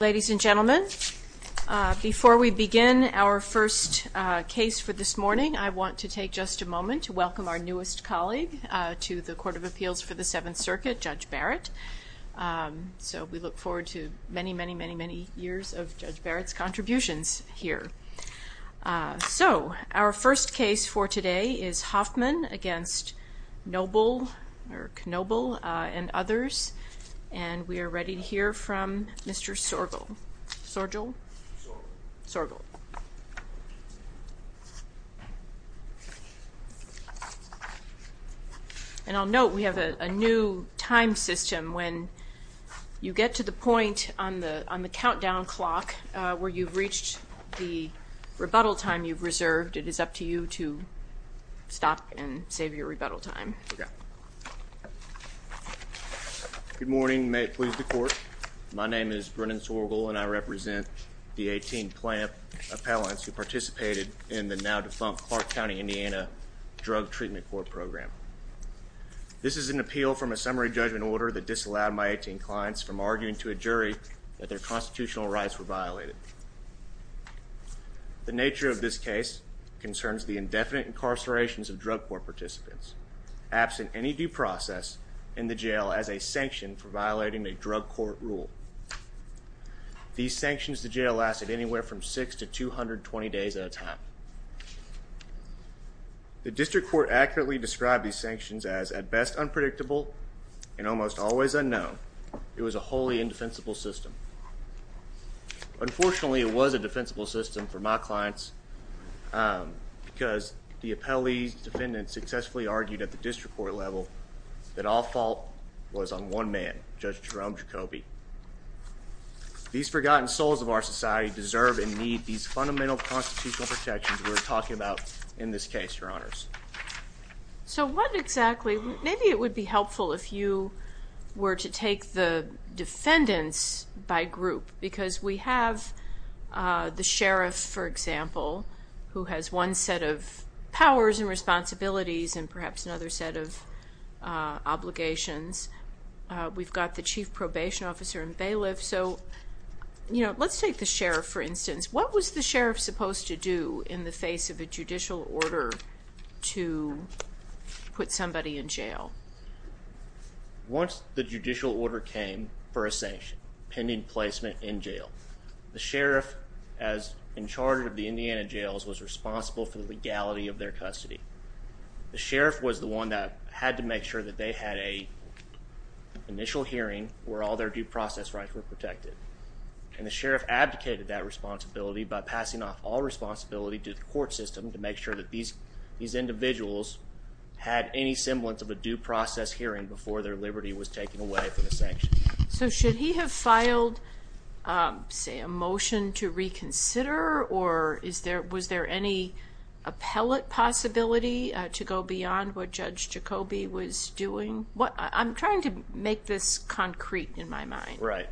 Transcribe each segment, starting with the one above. Ladies and gentlemen, before we begin our first case for this morning, I want to take just a moment to welcome our newest colleague to the Court of Appeals for the Seventh Circuit, Judge Barrett. So we look forward to many, many, many, many years of Judge Barrett's contributions here. So our first case for today is Hoffman against Knoebel and others. And we are ready to hear from Mr. Sorgel. And I'll note we have a new time system. When you get to the point on the countdown clock where you've reached the rebuttal time you've reserved, it is up to you to stop and save your rebuttal time. Brennan Sorgel Good morning. May it please the Court, my name is Brennan Sorgel and I represent the 18 plaintiff appellants who participated in the now defunct Clark County, Indiana Drug Treatment Court program. This is an appeal from a summary judgment order that disallowed my 18 clients from arguing to a jury that their constitutional rights were violated. The nature of this case concerns the indefinite incarcerations of drug court participants absent any due process in the jail as a sanction for violating a drug court rule. These sanctions to jail lasted anywhere from 6 to 220 days at a time. The district court accurately described these sanctions as at best unpredictable and almost always unknown. It was a wholly indefensible system. Unfortunately, it was a defensible system for my clients because the appellee's defendant successfully argued at the district court level that all fault was on one man, Judge Jerome Jacoby. These forgotten souls of our society deserve and need these fundamental constitutional protections we're talking about in this case, your honors. So, what exactly, maybe it would be helpful if you were to take the defendants by group because we have the sheriff, for example, who has one set of powers and responsibilities and perhaps another set of obligations. We've got the chief probation officer and bailiff. So, you know, let's take the sheriff for instance. What was the sheriff supposed to do in the judicial order to put somebody in jail? Once the judicial order came for a sanction, pending placement in jail, the sheriff as in charge of the Indiana jails was responsible for the legality of their custody. The sheriff was the one that had to make sure that they had a initial hearing where all their due process rights were protected. And the sheriff abdicated that responsibility by passing off all responsibility to the court system to make sure that these individuals had any semblance of a due process hearing before their liberty was taken away for the sanction. So, should he have filed, say, a motion to reconsider or was there any appellate possibility to go beyond what Judge Jacoby was doing? I'm trying to make this concrete in my mind. Right.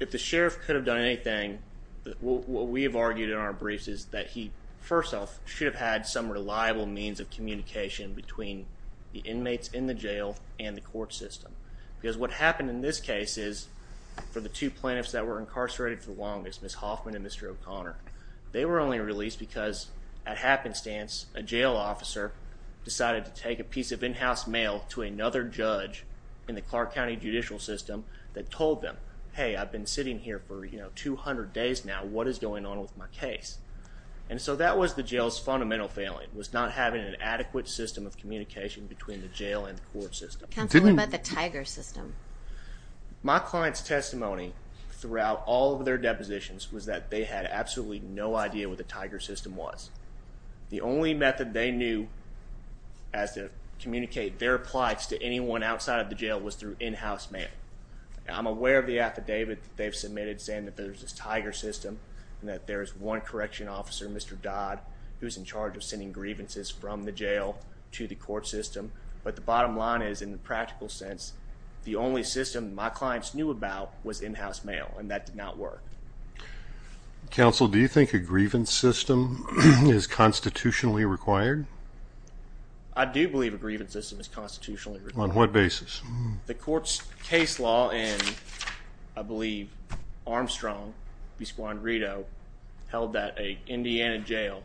If the sheriff could have done anything, what we have argued in our briefs is that he, first off, should have had some reliable means of communication between the inmates in the jail and the court system. Because what happened in this case is, for the two plaintiffs that were incarcerated for longest, Ms. Hoffman and Mr. O'Connor, they were only released because, at happenstance, a jail officer decided to take a piece of in-house mail to another judge in the Clark County judicial system that told them, hey, I've been sitting here for, you know, 200 days now. What is going on with my case? And so that was the jail's fundamental failing, was not having an adequate system of communication between the jail and the court system. Counsel, what about the Tiger system? My client's testimony throughout all of their depositions was that they had absolutely no idea what the Tiger system was. The only method they knew as to communicate their plights to anyone outside of the jail was through in-house mail. I'm aware of the affidavit they've submitted saying that there's this Tiger system and that there's one correction officer, Mr. Dodd, who's in charge of sending grievances from the jail to the court system. But the bottom line is, in the practical sense, the only system my clients knew about was in-house mail, and that did not work. Counsel, do you think a grievance system is constitutionally required? I do believe a grievance system is constitutionally required. On what basis? The court's case law in, I believe, Armstrong v. Guanrido held that an Indiana jail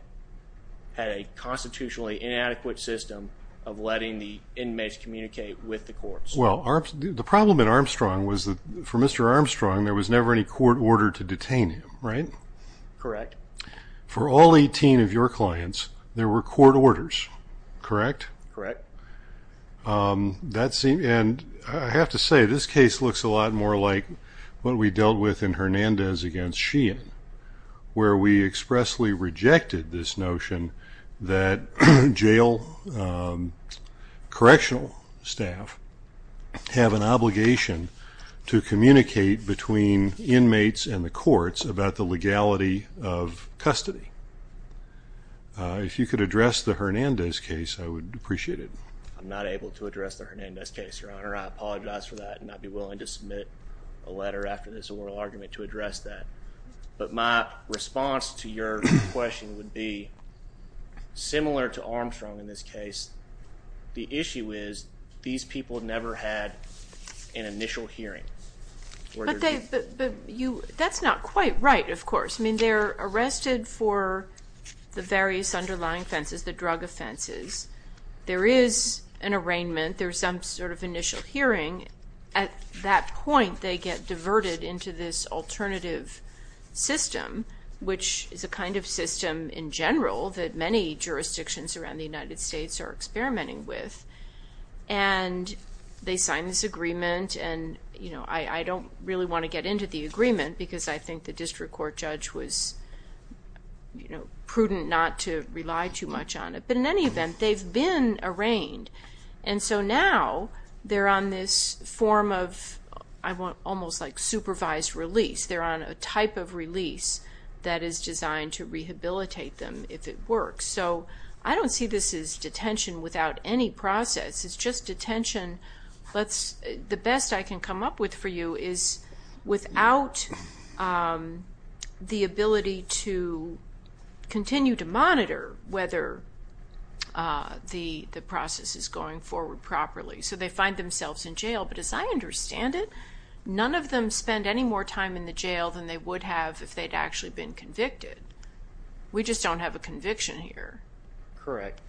had a constitutionally inadequate system of letting the inmates communicate with the courts. Well, the problem in Armstrong was that for Mr. Armstrong, there was never any court order to detain him, right? Correct. For all 18 of your clients, there were court orders, correct? Correct. And I have to say, this case looks a lot more like what we dealt with in Hernandez v. Sheehan, where we expressly rejected this notion that jail correctional staff have an obligation to communicate between inmates and the courts about the legality of custody. If you could address the Hernandez case, I would appreciate it. I'm not able to address the Hernandez case, Your Honor. I apologize for that and I'd be willing to submit a letter after this oral argument to address that. But my response to your question would be, similar to Armstrong in this case, the issue is these people never had an initial hearing. But that's not quite right, of course. I mean, they're arrested for the various underlying offenses, the drug offenses. There is an arraignment, there's some sort of initial hearing. At that point, they get diverted into this alternative system, which is a kind of system in general that many jurisdictions around the United States are experimenting with. And they sign this agreement and I don't really want to get into the agreement because I think the district court judge was prudent not to rely too much on it. But in any event, they've been arraigned. And so now, they're on this form of almost like supervised release. They're on a type of release that is designed to rehabilitate them if it works. So I don't see this as detention without any process. It's just detention. The best I can come up with for you is without the ability to continue to monitor whether the process is going forward properly. So they find themselves in jail. But as I understand it, none of them spend any more time in the jail than they would have if they'd actually been convicted. We just don't have a conviction here. Correct.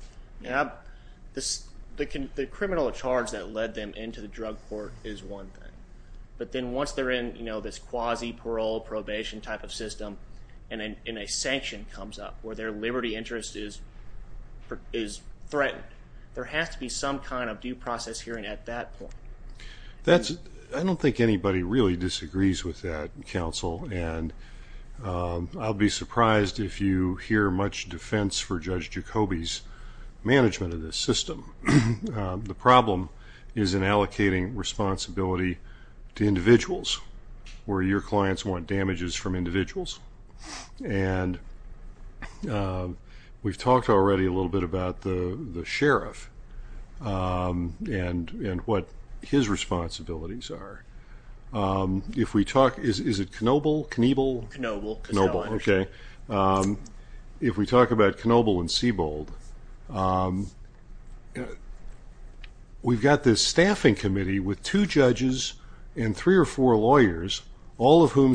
The criminal charge that led them into the drug court is one thing. But then once they're in this quasi parole probation type of system and a sanction comes up where their liberty interest is threatened, there has to be some kind of due process hearing at that point. I don't think anybody really disagrees with that, counsel. And I'll be surprised if you hear much defense for Judge Jacobi's system. The problem is in allocating responsibility to individuals where your clients want damages from individuals. And we've talked already a little bit about the sheriff and what his responsibilities are. If we talk, is it Knoebel, Kniebel? Knoebel. Knoebel, okay. If we talk about Knoebel and Sebold, we've got this staffing committee with two judges and three or four lawyers, all of whom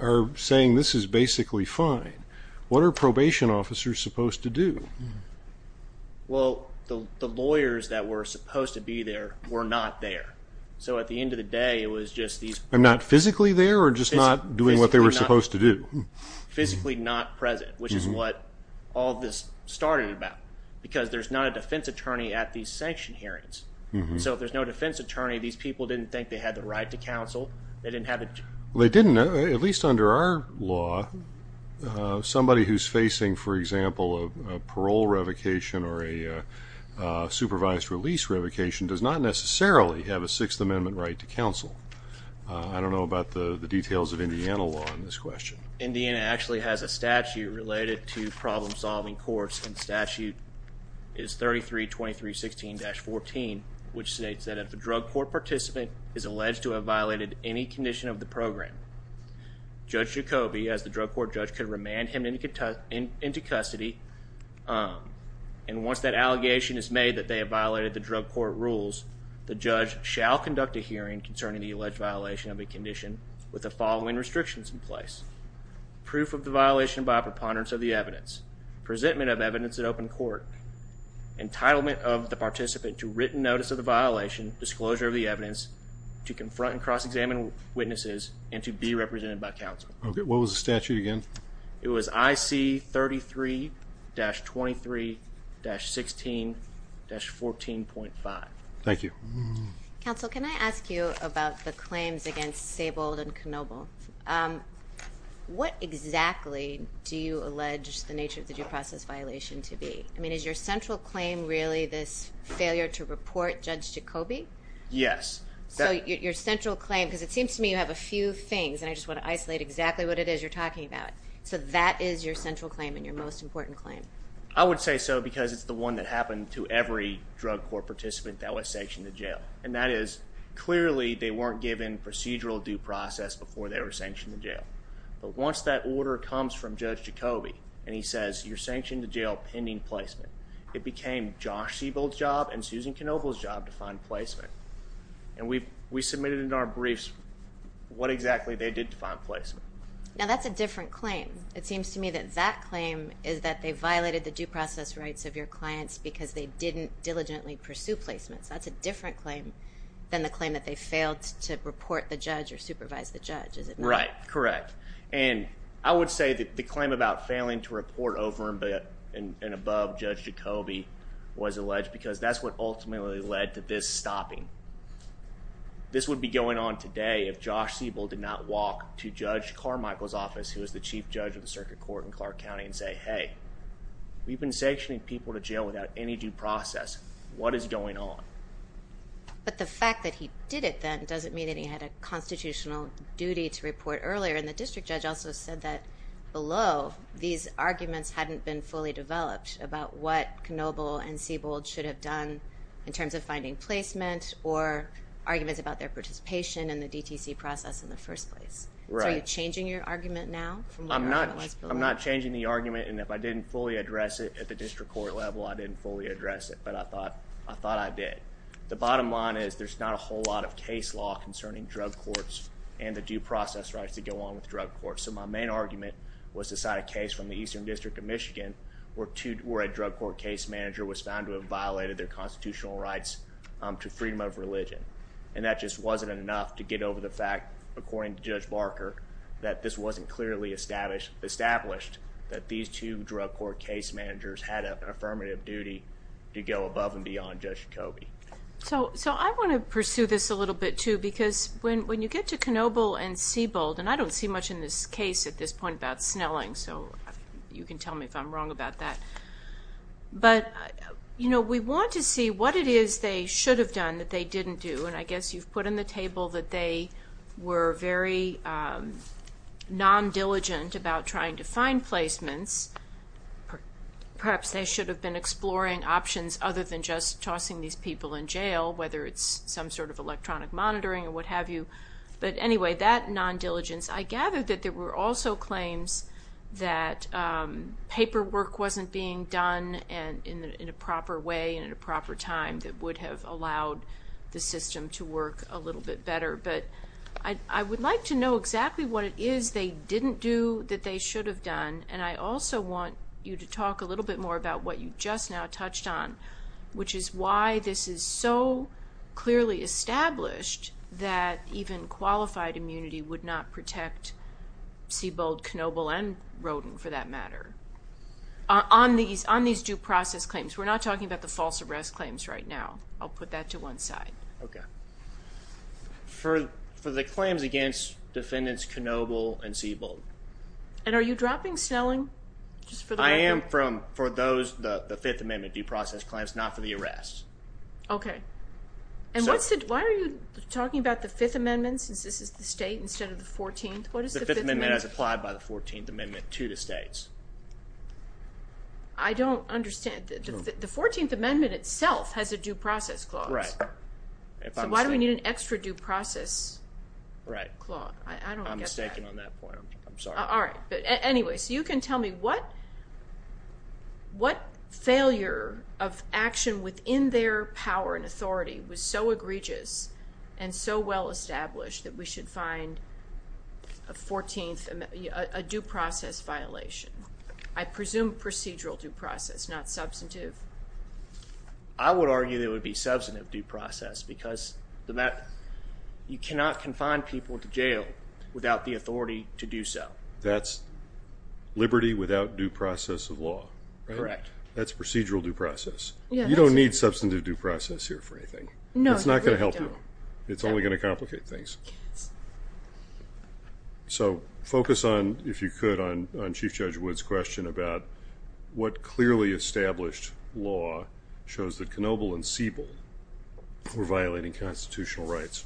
are saying this is basically fine. What are probation officers supposed to do? Well, the lawyers that were supposed to be there were not there. So at the end of the day, it was just these... Not physically there or just not doing what they were supposed to do? Physically not present, which is what all this started about. Because there's not a defense attorney at these sanction hearings. So if there's no defense attorney, these people didn't think they had the right to counsel. They didn't have... They didn't, at least under our law, somebody who's facing, for example, a parole revocation or a supervised release revocation does not necessarily have a Sixth Amendment right to counsel. I don't know about the details of that. Indiana actually has a statute related to problem-solving courts, and the statute is 332316-14, which states that if a drug court participant is alleged to have violated any condition of the program, Judge Jacoby, as the drug court judge, could remand him into custody. And once that allegation is made that they have violated the drug court rules, the judge shall conduct a hearing concerning the alleged violation of a condition with the following restrictions in place. Proof of the violation by a preponderance of the evidence. Presentment of evidence at open court. Entitlement of the participant to written notice of the violation, disclosure of the evidence, to confront and cross-examine witnesses, and to be represented by counsel. What was the statute again? It was IC33-23-16-14.5. Thank you. Counsel, can I ask you about the claims against Sable and Knoebel? What exactly do you allege the nature of the due process violation to be? I mean, is your central claim really this failure to report Judge Jacoby? Yes. So your central claim, because it seems to me you have a few things, and I just want to isolate exactly what it is you're talking about. So that is your central claim and your most important claim? I would say so because it's the one that happened to every drug court participant that was sanctioned to jail. And that is clearly they weren't given procedural due process before they were sanctioned to jail. But once that order comes from Judge Jacoby and he says you're sanctioned to jail pending placement, it became Josh Sable's job and Susan Knoebel's job to find placement. And we submitted in our briefs what exactly they did to find placement. Now that's a different claim. It seems to me that that claim is that they violated the due process rights of your clients because they didn't diligently pursue placements. That's a different claim than the claim that they failed to report the judge or supervise the judge. Is it right? Correct. And I would say that the claim about failing to report over and above Judge Jacoby was alleged because that's what ultimately led to this stopping. This would be going on today if Josh Sable did not walk to Judge Carmichael's office, who is the chief judge of the circuit court in Clark County, and say, hey, we've been sanctioning people to jail without any due process. What is going on? But the fact that he did it then doesn't mean that he had a constitutional duty to report earlier. And the district judge also said that below these arguments hadn't been fully developed about what Knoebel and Sable should have done in terms of finding placement or arguments about their participation in the DTC process in the first place. Are you changing your argument now? I'm not. I'm not changing the argument. And if I didn't fully address it at the district court level, I didn't fully address it. But I thought I did. The bottom line is there's not a whole lot of case law concerning drug courts and the due process rights to go on with drug courts. So my main argument was to cite a case from the Eastern District of Michigan where a drug court case manager was found to have violated their constitutional rights to freedom of religion. And that just wasn't enough to get over the fact, according to Judge Barker, that this wasn't clearly established that these two drug court case managers had an affirmative duty to go above and beyond Judge Kobe. So I want to pursue this a little bit, too, because when you get to Knoebel and Sable, and I don't see much in this case at this point about that. But, you know, we want to see what it is they should have done that they didn't do. And I guess you've put on the table that they were very non-diligent about trying to find placements. Perhaps they should have been exploring options other than just tossing these people in jail, whether it's some sort of electronic monitoring or what have you. But anyway, that non-diligence, I gather that there were also claims that paperwork wasn't being done in a proper way and at a proper time that would have allowed the system to work a little bit better. But I would like to know exactly what it is they didn't do that they should have done. And I also want you to talk a little bit more about what you just now touched on, which is why this is so Sebald, Knoebel, and Rodin for that matter. On these due process claims, we're not talking about the false arrest claims right now. I'll put that to one side. Okay. For the claims against defendants Knoebel and Sebald. And are you dropping Snelling? I am for those, the fifth amendment due process claims, not for the arrests. Okay. And why are you talking about the fifth amendment since this is the state instead of the 14th? The fifth amendment is applied by the 14th amendment to the states. I don't understand. The 14th amendment itself has a due process clause. Right. So why do we need an extra due process? Right. I don't get that. I'm mistaken on that point. I'm sorry. All right. But anyway, so you can tell me what failure of action within their power and authority was so egregious and so well established that we should find a 14th, a due process violation. I presume procedural due process, not substantive. I would argue that it would be substantive due process because you cannot confine people to jail without the authority to do so. That's liberty without due process of law. Correct. That's procedural due process. You don't need substantive due process here for anything. No. It's not going to help you. It's only going to complicate things. So focus on, if you could, on Chief Judge Wood's question about what clearly established law shows that Knoebel and Sebald were violating constitutional rights.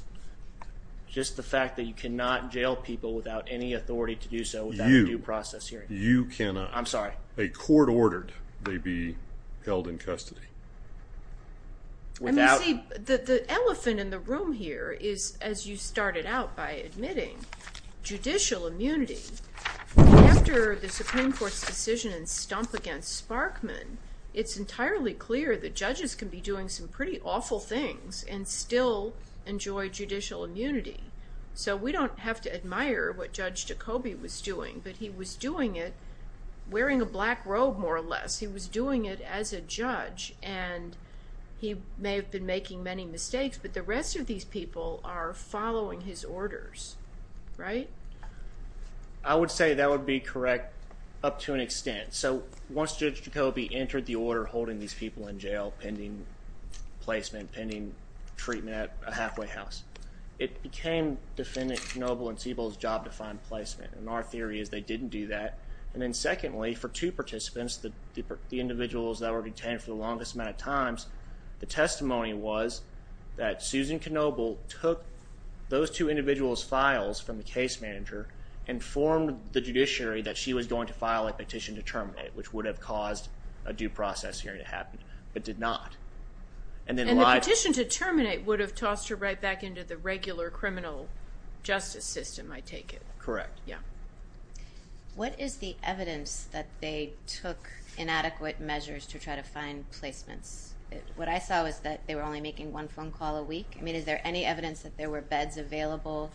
Just the fact that you cannot jail people without any authority to do so without a due process you cannot. I'm sorry. A court ordered they be held in custody. And you see, the elephant in the room here is, as you started out by admitting, judicial immunity. After the Supreme Court's decision and stomp against Sparkman, it's entirely clear that judges can be doing some pretty awful things and still enjoy judicial immunity. So we don't have to admire what Judge Jacobi was doing, but he was doing it wearing a black robe, more or less. He was doing it as a judge and he may have been making many mistakes, but the rest of these people are following his orders, right? I would say that would be correct up to an extent. So once Judge Jacobi entered the order holding these people in jail pending placement, pending treatment at a job-defined placement. And our theory is they didn't do that. And then secondly, for two participants, the individuals that were detained for the longest amount of times, the testimony was that Susan Knoebel took those two individuals' files from the case manager and informed the judiciary that she was going to file a petition to terminate, which would have caused a due process hearing to happen, but did not. And then the petition to terminate would have tossed her right back into the regular criminal justice system, I take it? Correct. Yeah. What is the evidence that they took inadequate measures to try to find placements? What I saw was that they were only making one phone call a week. I mean, is there any evidence that there were beds available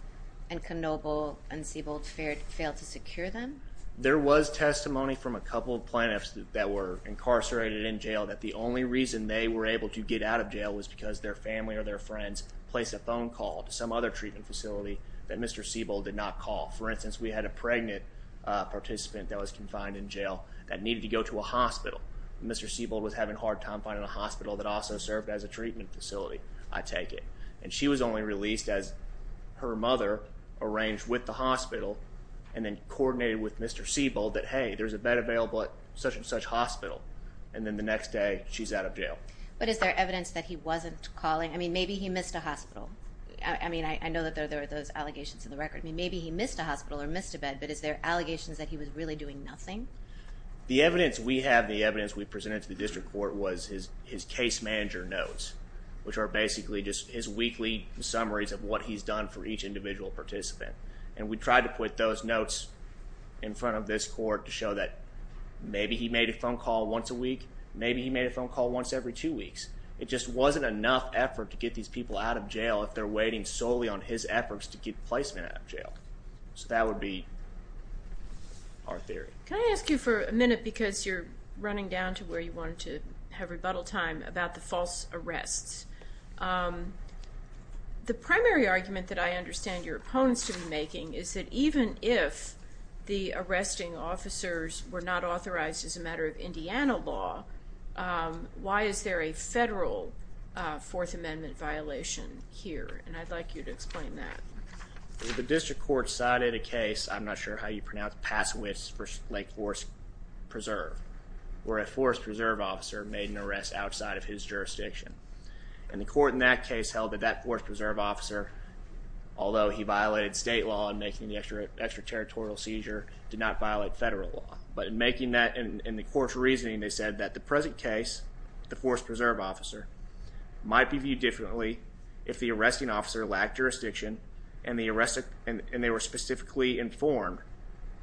and Knoebel and Siebold failed to secure them? There was testimony from a couple of plaintiffs that were incarcerated in jail that the only reason they were able to get out of jail was because their family or their friends placed a phone call to some other treatment facility that Mr. Siebold did not call. For instance, we had a pregnant participant that was confined in jail that needed to go to a hospital. Mr. Siebold was having a hard time finding a hospital that also served as a treatment facility, I take it. And she was only released as her mother arranged with the hospital and then coordinated with Mr. Siebold that, hey, there's a bed available at such and such hospital. And then the next day, she's out of jail. But is there evidence that he wasn't calling? I mean, maybe he missed a hospital. I mean, I know that there are those allegations in the record. Maybe he missed a hospital or missed a bed. But is there allegations that he was really doing nothing? The evidence we have, the evidence we presented to the district court was his case manager notes, which are basically just his weekly summaries of what he's done for each individual participant. And we tried to put those notes in front of this court to show that maybe he made a phone call once a week. Maybe he made a phone call once every two weeks. It just wasn't enough effort to get these people out of jail if they're waiting solely on his efforts to get placement out of jail. So that would be our theory. Can I ask you for a minute, because you're running down to where you wanted to have rebuttal time, about the false arrests. The primary argument that I understand your opponents to be making is that even if the federal fourth amendment violation here, and I'd like you to explain that. The district court cited a case, I'm not sure how you pronounce it, Passowitz v. Lake Forest Preserve, where a forest preserve officer made an arrest outside of his jurisdiction. And the court in that case held that that forest preserve officer, although he violated state law in making the extraterritorial seizure, did not violate federal law. But in making that, in the court's reasoning, they said that the present case, the forest preserve officer, might be viewed differently if the arresting officer lacked jurisdiction and they were specifically informed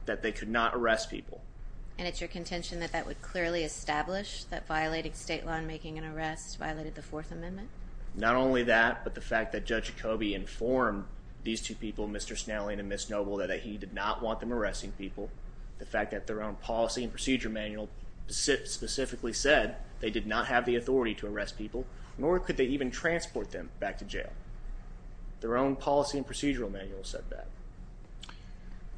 that they could not arrest people. And it's your contention that that would clearly establish that violating state law and making an arrest violated the fourth amendment? Not only that, but the fact that Judge Jacobi informed these two people, Mr. Snelling and Ms. Noble, that he did not want them arresting people. The fact that their own policy and procedure manual specifically said they did not have the authority to arrest people, nor could they even transport them back to jail. Their own policy and procedural manual said that.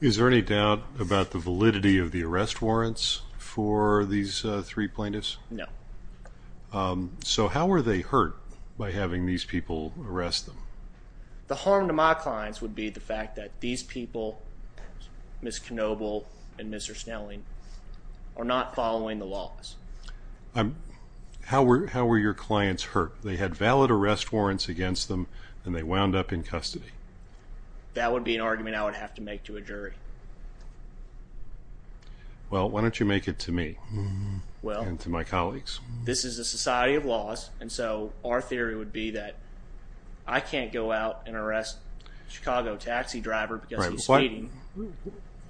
Is there any doubt about the validity of the arrest warrants for these three plaintiffs? No. So how were they hurt by having these people arrest them? The harm to my clients would be the fact that these people, Ms. Noble and Mr. Snelling, are not following the laws. How were your clients hurt? They had valid arrest warrants against them and they wound up in custody? That would be an argument I would have to make to a jury. Well, why don't you make it to me and to my colleagues? This is a society of laws and so our theory would be that I can't go out and arrest a Chicago taxi driver because he's speeding.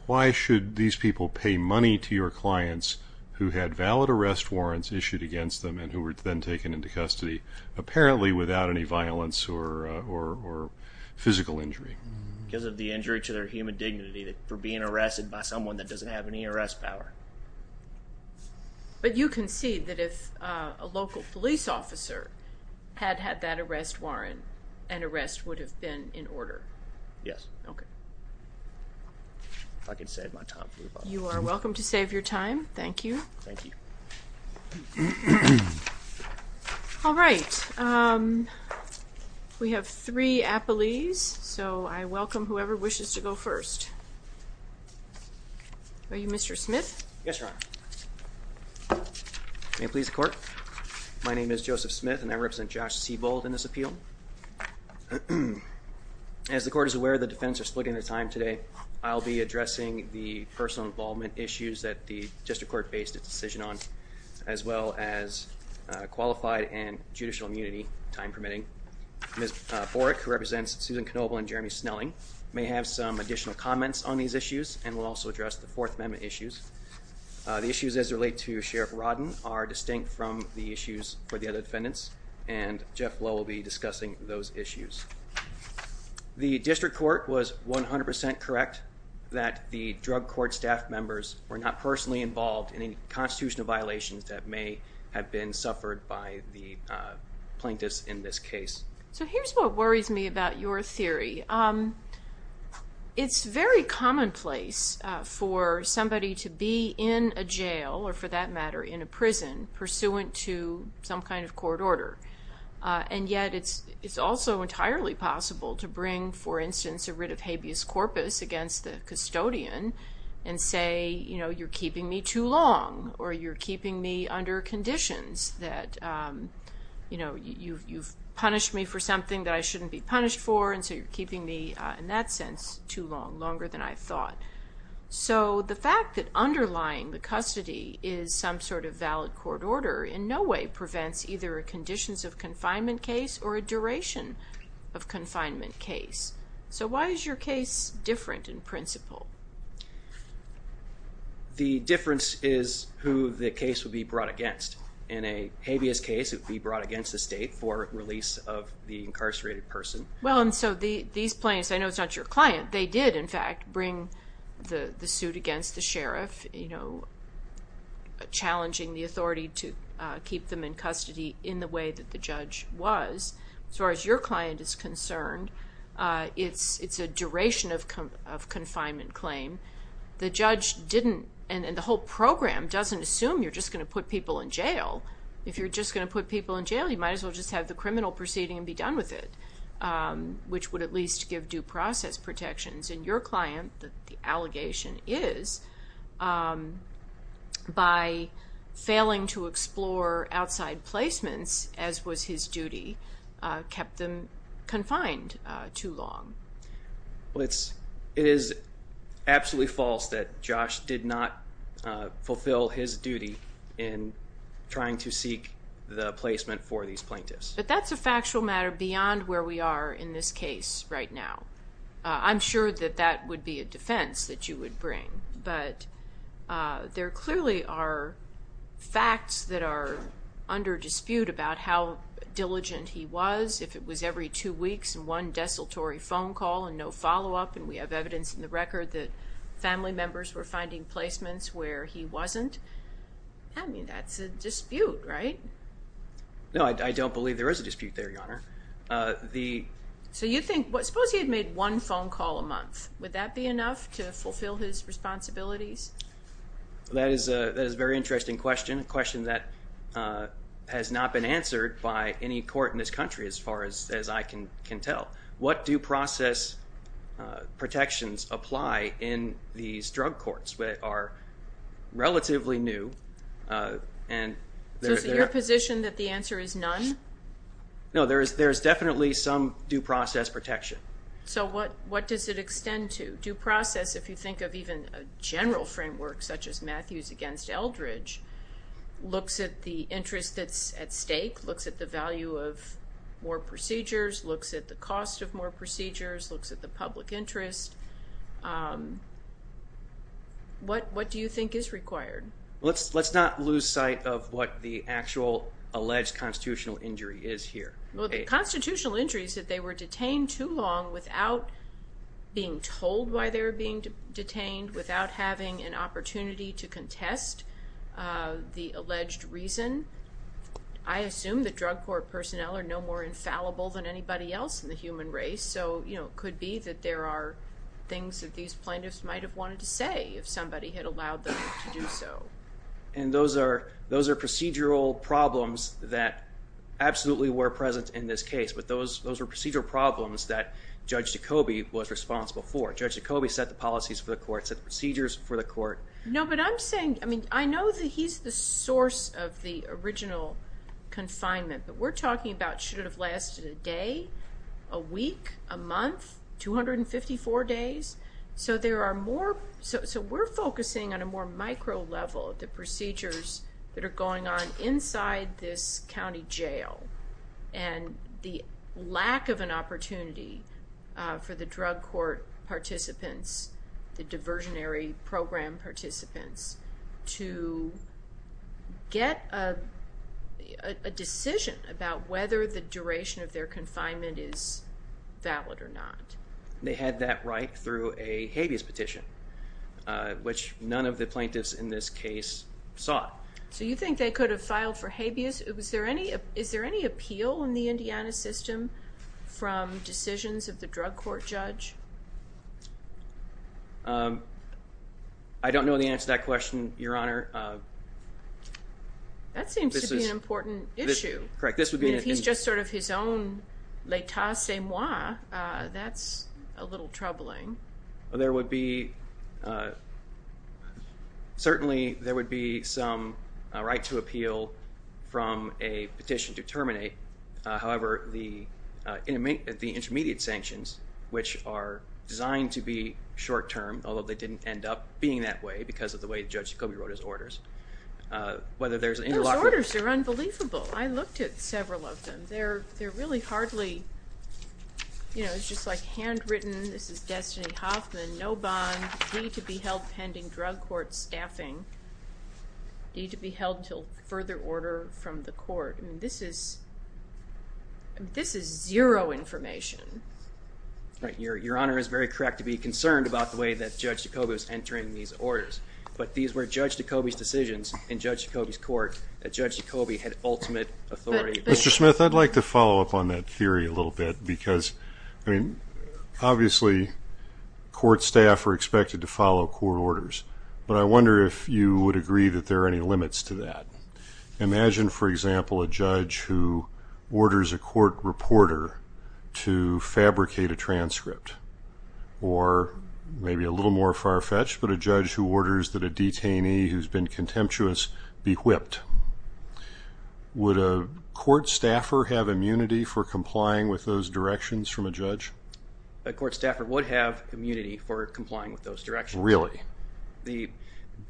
Why should these people pay money to your clients who had valid arrest warrants issued against them and who were then taken into custody, apparently without any violence or physical injury? Because of the injury to their human dignity for being arrested by someone that had had that arrest warrant, an arrest would have been in order. Yes. Okay. If I can save my time. You are welcome to save your time. Thank you. Thank you. All right. We have three appellees, so I welcome whoever wishes to go first. All right. Are you Mr. Smith? Yes, Your Honor. May it please the court. My name is Joseph Smith and I represent Josh Seibold in this appeal. As the court is aware, the defendants are splitting their time today. I'll be addressing the personal involvement issues that the district court based its decision on, as well as qualified and judicial immunity, time permitting. Ms. Borick, who represents Susan Knoebel and Jeremy Snelling, may have some additional comments on these issues and will also address the Fourth Amendment issues. The issues as they relate to Sheriff Rodden are distinct from the issues for the other defendants and Jeff Lowe will be discussing those issues. The district court was 100% correct that the drug court staff members were not personally involved in any constitutional violations that may have been suffered by the plaintiffs in this case. So here's what worries me about your theory. It's very commonplace for somebody to be in a jail or, for that matter, in a prison pursuant to some kind of court order. And yet it's also entirely possible to bring, for instance, a writ of habeas corpus against the custodian and say, you know, you're keeping me too long or you're keeping me under conditions that, you know, you've punished me for something that I too long, longer than I thought. So the fact that underlying the custody is some sort of valid court order in no way prevents either a conditions of confinement case or a duration of confinement case. So why is your case different in principle? The difference is who the case would be brought against. In a habeas case, it would be brought against the state for release of the incarcerated person. Well, and so these plaintiffs, I know it's your client, they did, in fact, bring the suit against the sheriff, you know, challenging the authority to keep them in custody in the way that the judge was. As far as your client is concerned, it's a duration of confinement claim. The judge didn't, and the whole program doesn't assume you're just going to put people in jail. If you're just going to put people in jail, you might as well just have the criminal proceeding and be done with it, which would at least give due process protections. And your client, that the allegation is, by failing to explore outside placements, as was his duty, kept them confined too long. Well, it is absolutely false that Josh did not placement for these plaintiffs. But that's a factual matter beyond where we are in this case right now. I'm sure that that would be a defense that you would bring, but there clearly are facts that are under dispute about how diligent he was. If it was every two weeks and one desultory phone call and no follow-up, and we have evidence in the record that family members were finding placements where he wasn't, I mean, that's a dispute, right? No, I don't believe there is a dispute there, Your Honor. So you think, suppose he had made one phone call a month. Would that be enough to fulfill his responsibilities? That is a very interesting question, a question that has not been answered by any court in this country, as far as I can tell. What due process protections apply in these drug courts that are relatively new? So is it your position that the answer is none? No, there is definitely some due process protection. So what does it extend to? Due process, if you think of even a general framework, such as Matthews against Eldridge, looks at the interest that's at stake, looks at the value of more procedures, looks at the cost of more procedures, looks at the public interest. What do you think is required? Let's not lose sight of what the actual alleged constitutional injury is here. Well, the constitutional injury is that they were detained too long without being told why they're being detained, without having an opportunity to contest the alleged reason. I assume that drug court personnel are no more infallible than anybody else in the human race, so it could be that there are things that these plaintiffs might have wanted to say if somebody had allowed them to do so. And those are procedural problems that absolutely were present in this case, but those were procedural problems that Judge Jacobi was responsible for. Judge Jacobi set the policies for the court, set the procedures for the court. No, but I'm saying, I mean, I know that he's the source of the original confinement, but we're a week, a month, 254 days, so there are more, so we're focusing on a more micro level, the procedures that are going on inside this county jail and the lack of an opportunity for the drug court participants, the diversionary program participants, to get a decision about whether the duration of their confinement is valid or not. They had that right through a habeas petition, which none of the plaintiffs in this case sought. So you think they could have filed for habeas? Was there any, is there any appeal in the Indiana system from decisions of the drug court judge? I don't know the answer to that question, Your Honor. That seems to be an important issue. Correct. This would be, if he's just sort of his own les tassez-moi, that's a little troubling. There would be, certainly there would be some right to appeal from a petition to terminate. However, the intermediate sanctions, which are designed to be short-term, although they didn't end up being that way because of the way Judge Jacoby wrote his orders, whether there's an interlock... Those orders are unbelievable. I looked at several of them. They're really hardly, you know, it's just like handwritten, this is Destiny Hoffman, no bond, need to be held pending drug court staffing, need to be held until further order from the court. I mean, this is, this is zero information. Right, Your Honor is very correct to be concerned about the way that orders, but these were Judge Jacoby's decisions in Judge Jacoby's court that Judge Jacoby had ultimate authority. Mr. Smith, I'd like to follow up on that theory a little bit because, I mean, obviously court staff are expected to follow court orders, but I wonder if you would agree that there are any limits to that. Imagine, for example, a judge who orders a court reporter to fabricate a transcript, or maybe a little more far-fetched, but a judge who orders that a detainee who's been contemptuous be whipped. Would a court staffer have immunity for complying with those directions from a judge? A court staffer would have immunity for complying with those Absolute immunity,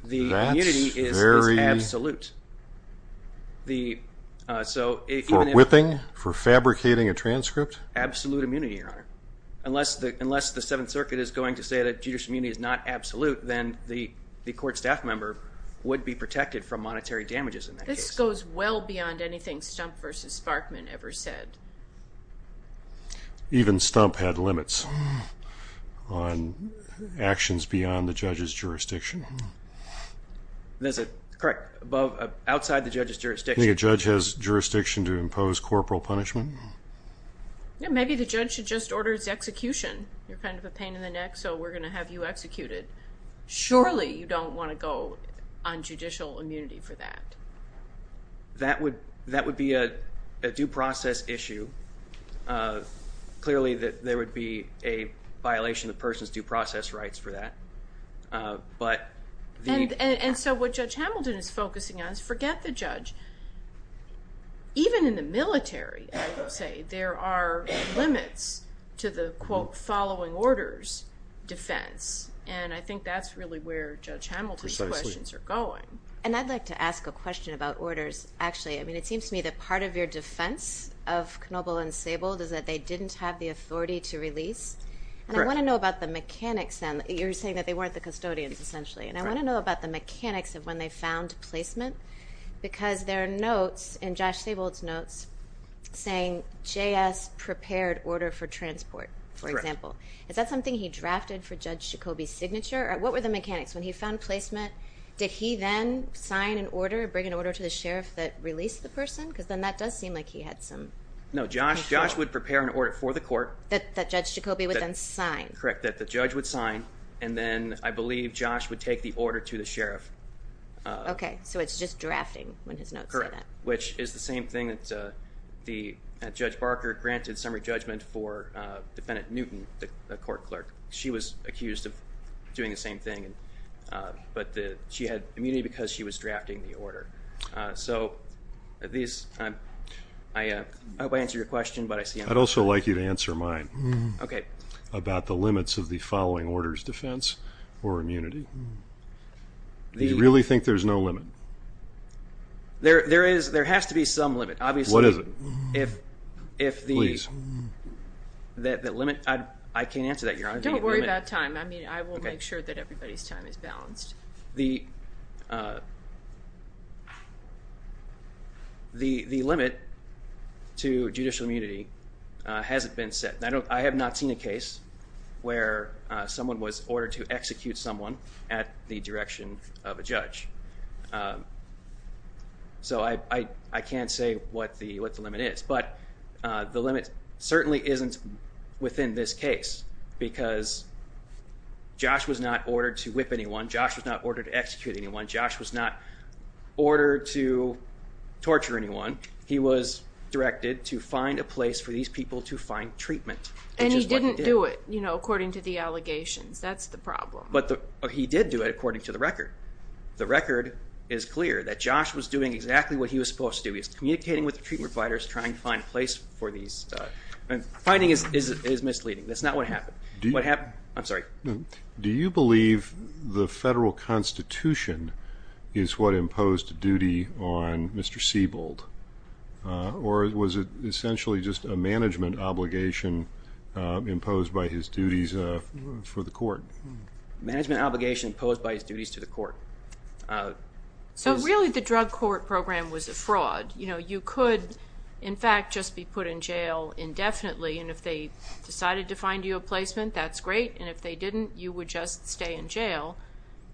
Your Honor. Unless the Seventh Circuit is going to say that judicial immunity is not absolute, then the court staff member would be protected from monetary damages in that case. This goes well beyond anything Stumpp v. Sparkman ever said. Even Stumpp had limits on actions beyond the judge's jurisdiction. There's a, correct, outside the judge's jurisdiction. You think a judge has corporal punishment? Maybe the judge should just order his execution. You're kind of a pain in the neck, so we're going to have you executed. Surely you don't want to go on judicial immunity for that. That would be a due process issue. Clearly there would be a violation of a person's due process rights for that. And so what Judge Hamilton is focusing on is forget the judge. Even in the military, I would say, there are limits to the quote following orders defense, and I think that's really where Judge Hamilton's questions are going. And I'd like to ask a question about orders. Actually, I mean, it seems to me that part of your defense of Knobel and Sable is that they didn't have the authority to release. And I want to know about the mechanics then. You're saying that they weren't the custodians essentially, and I want to about the mechanics of when they found placement, because there are notes in Josh Sable's notes saying JS prepared order for transport, for example. Is that something he drafted for Judge Jacobi's signature? What were the mechanics when he found placement? Did he then sign an order, bring an order to the sheriff that released the person? Because then that does seem like he had some control. No, Josh would prepare an order for the court. That Judge Jacobi would then sign. Correct, that the judge would sign, and then I believe Josh would take the order to the sheriff. Okay, so it's just drafting when his notes say that. Correct, which is the same thing that Judge Barker granted summary judgment for Defendant Newton, the court clerk. She was accused of doing the same thing, but she had immunity because she was drafting the order. So, I hope I answered your question, but I see... I'd also like you to answer mine. Okay. About the limits of the following orders defense or immunity. Do you really think there's no limit? There has to be some limit, obviously. What is it? If the limit... I can't answer that. Don't worry about time. I mean, I will make sure that everybody's time is balanced. The limit to judicial immunity hasn't been set. I have not seen a case where someone was ordered to execute someone at the direction of a judge. So, I can't say what the limit is, but the limit certainly isn't within this case because Josh was not ordered to whip anyone. Josh was not ordered to execute anyone. Josh was not ordered to torture anyone. He was directed to find a place for these people to find treatment. And he didn't do it, you know, according to the allegations. That's the problem. But he did do it according to the record. The record is clear that Josh was doing exactly what he was supposed to do. He was communicating with the treatment providers trying to find a place for these... and finding is misleading. That's not what happened. What happened... I'm sorry. Do you believe the federal constitution is what imposed duty on Mr. Siebold? Or was it essentially just a management obligation imposed by his duties for the court? Management obligation imposed by his duties to the court. So, really, the drug court program was a fraud. You know, you could, in fact, just be put in jail indefinitely. And if they decided to find you a placement, that's great. And if they didn't, you would just stay in jail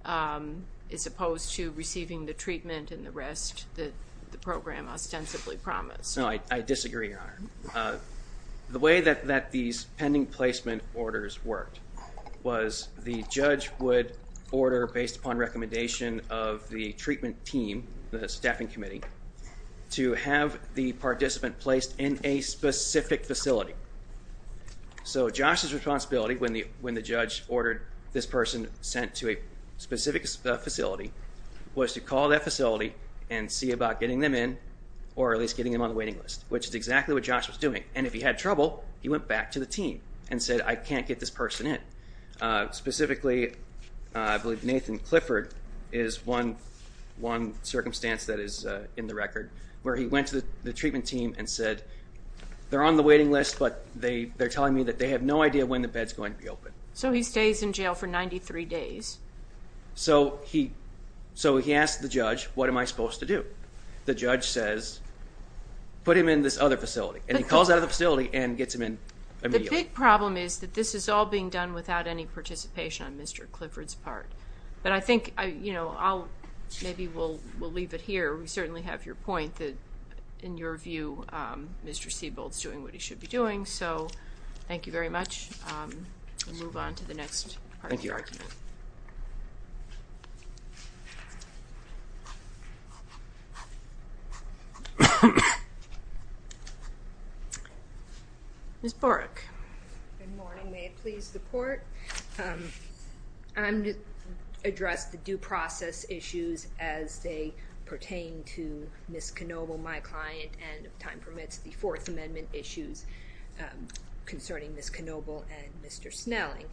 as opposed to receiving the treatment and the rest that the program ostensibly promised. No, I disagree, Your Honor. The way that these pending placement orders worked was the judge would order, based upon recommendation of the treatment team, the staffing committee, to have the participant placed in a specific facility. So Josh's responsibility when the judge ordered this person sent to a specific facility was to call that facility and see about getting them in or at least getting them on the waiting list, which is exactly what Josh was doing. And if he had trouble, he went back to the team and said, I can't get this person in. Specifically, I believe Nathan Clifford is one circumstance that is in the record where he went to the treatment team and said, they're on the waiting list, but they're telling me that they have no idea when the bed's going to be open. So he stays in jail for 93 days. So he asked the judge, what am I supposed to do? The judge says, put him in this other facility. And he calls out of the facility and gets him in immediately. The big problem is that this is all being done without any participation on Mr. Clifford's part. But I think, you know, I'll, maybe we'll leave it here. We certainly have your point that, in your view, Mr. Siebold's doing what he should be doing. So thank you very much. We'll move on to the next argument. Thank you, Your Honor. Ms. Borick. Good morning. May it please the Court? I'm to address the due process issues as they pertain to Ms. Knoebel, my client, and if time permits, the Fourth Amendment issues concerning Ms. Knoebel and Mr. Snelling.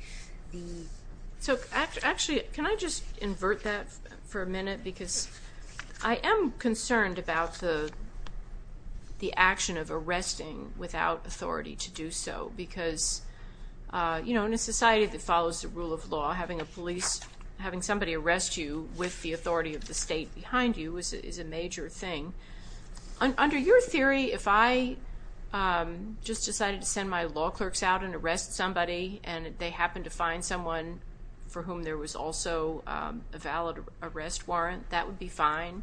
So actually, can I just invert that for a minute? Because I am concerned about the action of arresting without authority to do so. Because, you know, in a society that follows the rule of law, having a police, having somebody arrest you with the authority of the state behind you is a major thing. Under your theory, if I just decided to send my law clerks out and arrest somebody, and they happened to find someone for whom there was also a valid arrest warrant, that would be fine?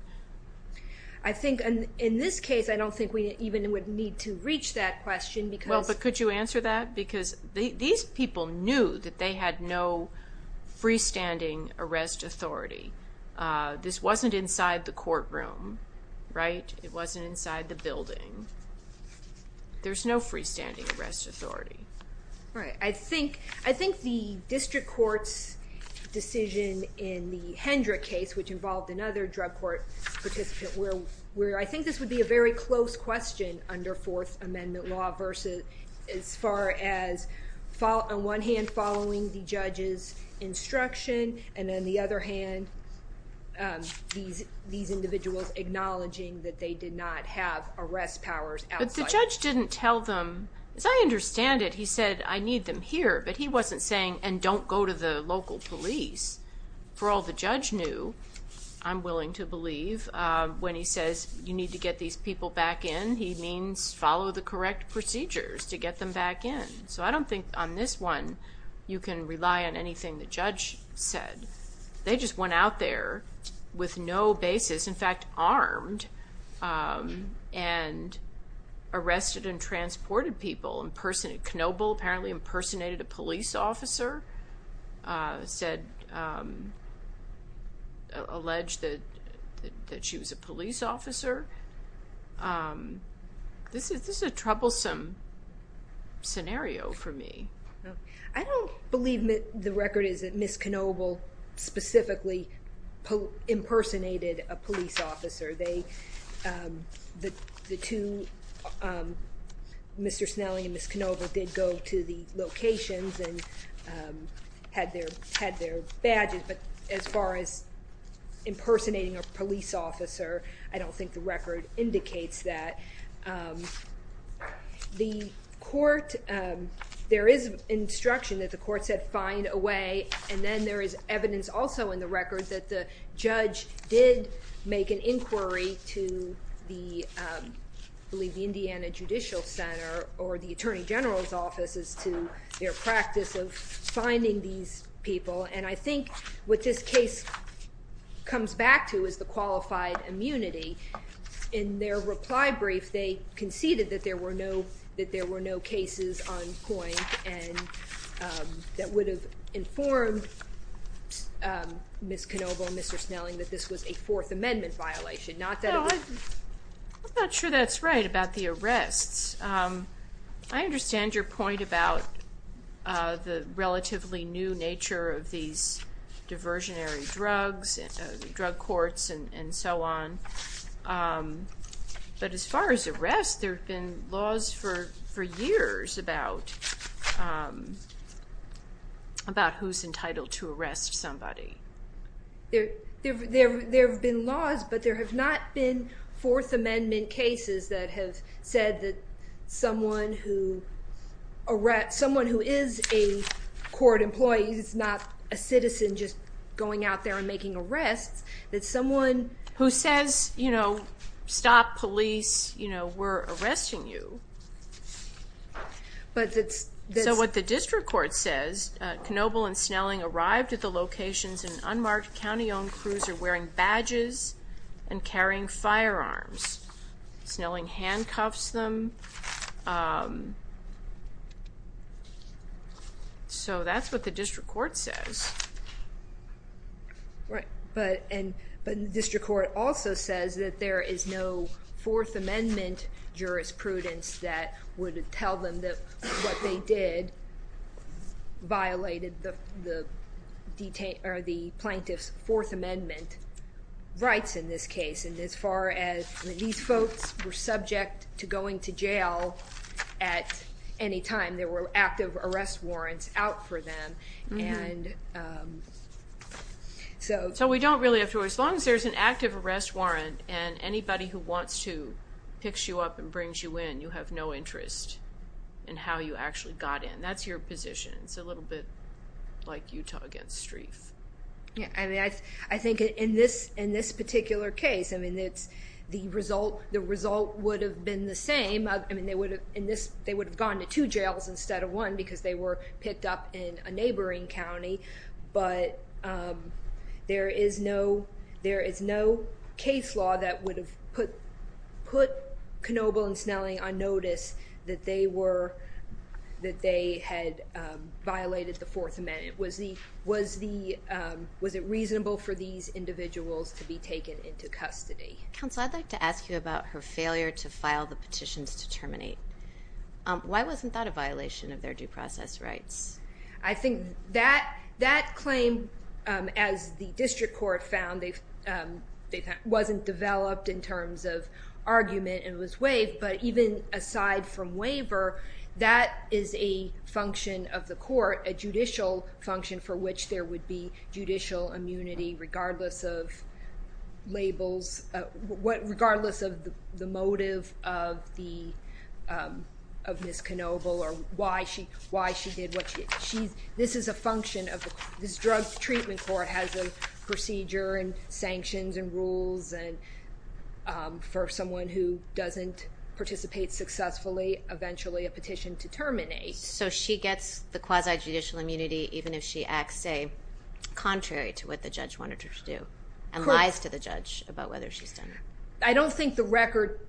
I think, in this case, I don't think we even would need to reach that question because... Well, but could you answer that? Because these people knew that they had no freestanding arrest authority. This wasn't inside the courtroom, right? It wasn't inside the building. There's no freestanding arrest authority. Right. I think the district court's decision in the Hendrick case, which involved another drug court participant, where I think this would be a very close question under Fourth Amendment law versus as far as, on one hand, following the judge's instruction, and on the other hand, these individuals acknowledging that they did not have arrest powers outside... But the judge didn't tell them... As I understand it, he said, I need them here. But he wasn't saying, and don't go to the local police. For all the judge knew, I'm willing to believe, when he says, you need to get these people back in, he means follow the correct procedures to get them back in. So I don't think on this one, you can rely on anything the judge said. They just went out there with no basis, in fact, armed and arrested and transported people. Knoebel apparently impersonated a police officer, said, alleged that she was a police officer. This is a troublesome scenario for me. I don't believe the record is that Ms. Knoebel specifically impersonated a police officer. The two, Mr. Snelly and Ms. Knoebel did go to the locations and had their badges. But as far as impersonating a police officer, I don't think the record indicates that. The court, there is instruction that the court said, find a way. And then there is evidence also in the record that the judge did make an inquiry to the, I believe, the Indiana Judicial Center or the Attorney General's Office as to their practice of finding these people. And I think what this case comes back to is the qualified immunity. In their reply brief, they conceded that there were no, that there were no cases on point and that would have informed Ms. Knoebel and Mr. Snelly that this was a Fourth Amendment violation. I'm not sure that's right about the diversionary drugs, drug courts, and so on. But as far as arrests, there have been laws for years about who's entitled to arrest somebody. There have been laws, but there have not been Fourth Amendment cases that have said that someone who is a court employee is not a citizen just going out there and making arrests. That someone who says, you know, stop police, you know, we're arresting you. So what the district court says, Knoebel and Snelly arrived at the locations in unmarked county-owned cruiser wearing badges and carrying Right. But the district court also says that there is no Fourth Amendment jurisprudence that would tell them that what they did violated the plaintiff's Fourth Amendment rights in this case. And as far as, these folks were subject to going to jail at any time. There were active arrest warrants out for them. So we don't really have to worry. As long as there's an active arrest warrant and anybody who wants to pick you up and bring you in, you have no interest in how you actually got in. That's your position. It's a little bit like Utah against Streif. Yeah. I mean, I think in this particular case, I mean, the result would have been the same. I mean, they would have gone to two jails instead of one because they were picked up in a neighboring county. But there is no case law that would have put Knoebel and Snelly on notice that they had violated the Fourth Amendment. Was it reasonable for these individuals to be taken into custody? Counsel, I'd like to ask you about her failure to file the terminate. Why wasn't that a violation of their due process rights? I think that claim, as the district court found, they wasn't developed in terms of argument and was waived. But even aside from waiver, that is a function of the court, a judicial function for which there would be of Ms. Knoebel or why she did what she did. This is a function of the court. This drug treatment court has a procedure and sanctions and rules and for someone who doesn't participate successfully, eventually a petition to terminate. So she gets the quasi-judicial immunity even if she acts, say, contrary to what the judge wanted her to do and lies to the judge about whether she's done it? I don't think the record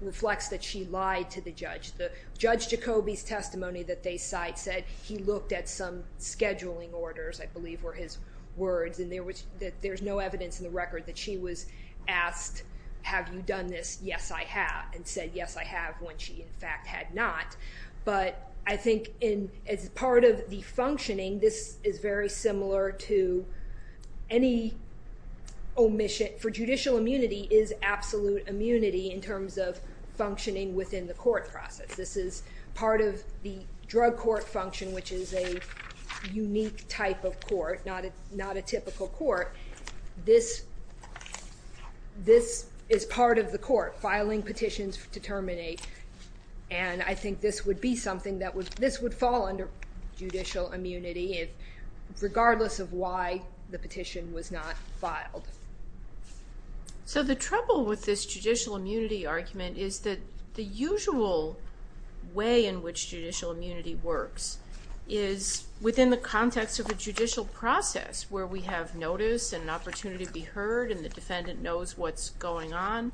reflects that she lied to the judge. The judge Jacoby's testimony that they cite said he looked at some scheduling orders, I believe were his words, and there was that there's no evidence in the record that she was asked, have you done this? Yes, I have. And said, yes, I have, when she in fact had not. But I think as part of the functioning, this is very absolute immunity in terms of functioning within the court process. This is part of the drug court function, which is a unique type of court, not a typical court. This is part of the court, filing petitions to terminate. And I think this would be something that would, this would fall under judicial immunity regardless of why the petition was not filed. So the trouble with this judicial immunity argument is that the usual way in which judicial immunity works is within the context of a judicial process where we have notice and an opportunity to be heard and the defendant knows what's going on.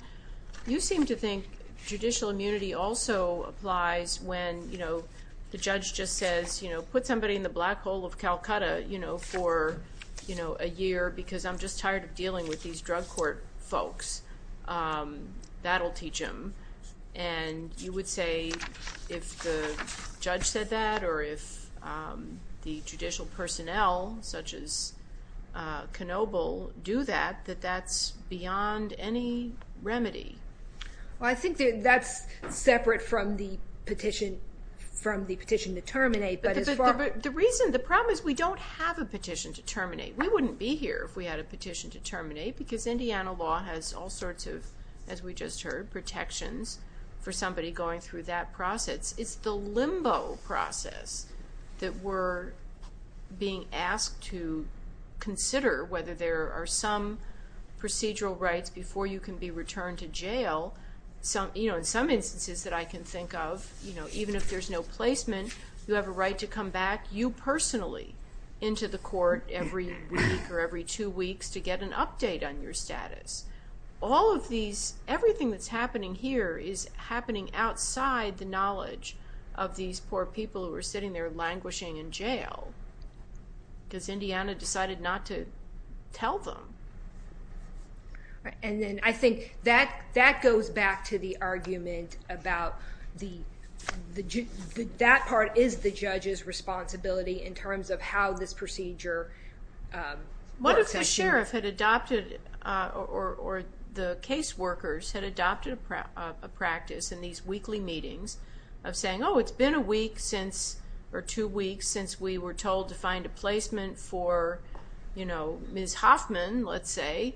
You seem to think judicial immunity also applies when, you know, the judge just says, you know, put somebody in the black hole of Calcutta, you know, for, you know, a year because I'm just tired of dealing with these drug court folks. That'll teach them. And you would say if the judge said that or if the judicial personnel such as Knoebel do that, that that's any remedy. Well, I think that's separate from the petition, from the petition to terminate. The reason, the problem is we don't have a petition to terminate. We wouldn't be here if we had a petition to terminate because Indiana law has all sorts of, as we just heard, protections for somebody going through that process. It's the limbo process that we're being asked to before you can be returned to jail. Some, you know, in some instances that I can think of, you know, even if there's no placement, you have a right to come back, you personally, into the court every week or every two weeks to get an update on your status. All of these, everything that's happening here is happening outside the knowledge of these poor people who are sitting there languishing in jail because Indiana decided not to tell them. And then I think that that goes back to the argument about that part is the judge's responsibility in terms of how this procedure works. What if the sheriff had adopted or the case workers had adopted a practice in these weekly meetings of saying, oh, it's been a week since or two weeks since we were told to find a placement for, you know, Ms. Hoffman, let's say,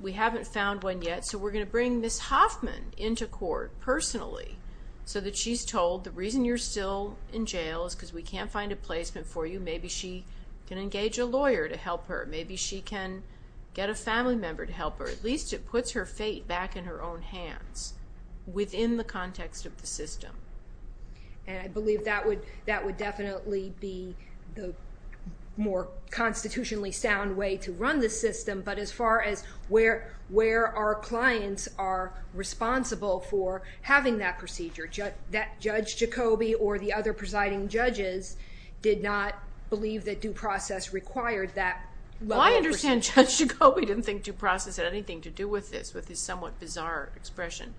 we haven't found one yet, so we're going to bring Ms. Hoffman into court personally so that she's told the reason you're still in jail is because we can't find a placement for you. Maybe she can engage a lawyer to help her. Maybe she can get a family member to help her. At least it puts her fate back in her own hands within the context of the system. And I believe that would, that would definitely be the more constitutionally sound way to run the system. But as far as where our clients are responsible for having that procedure, that Judge Jacobi or the other presiding judges did not believe that due process required that level of procedure. Well, I understand Judge Jacobi didn't think due process had anything to do with this, with this somewhat bizarre expression.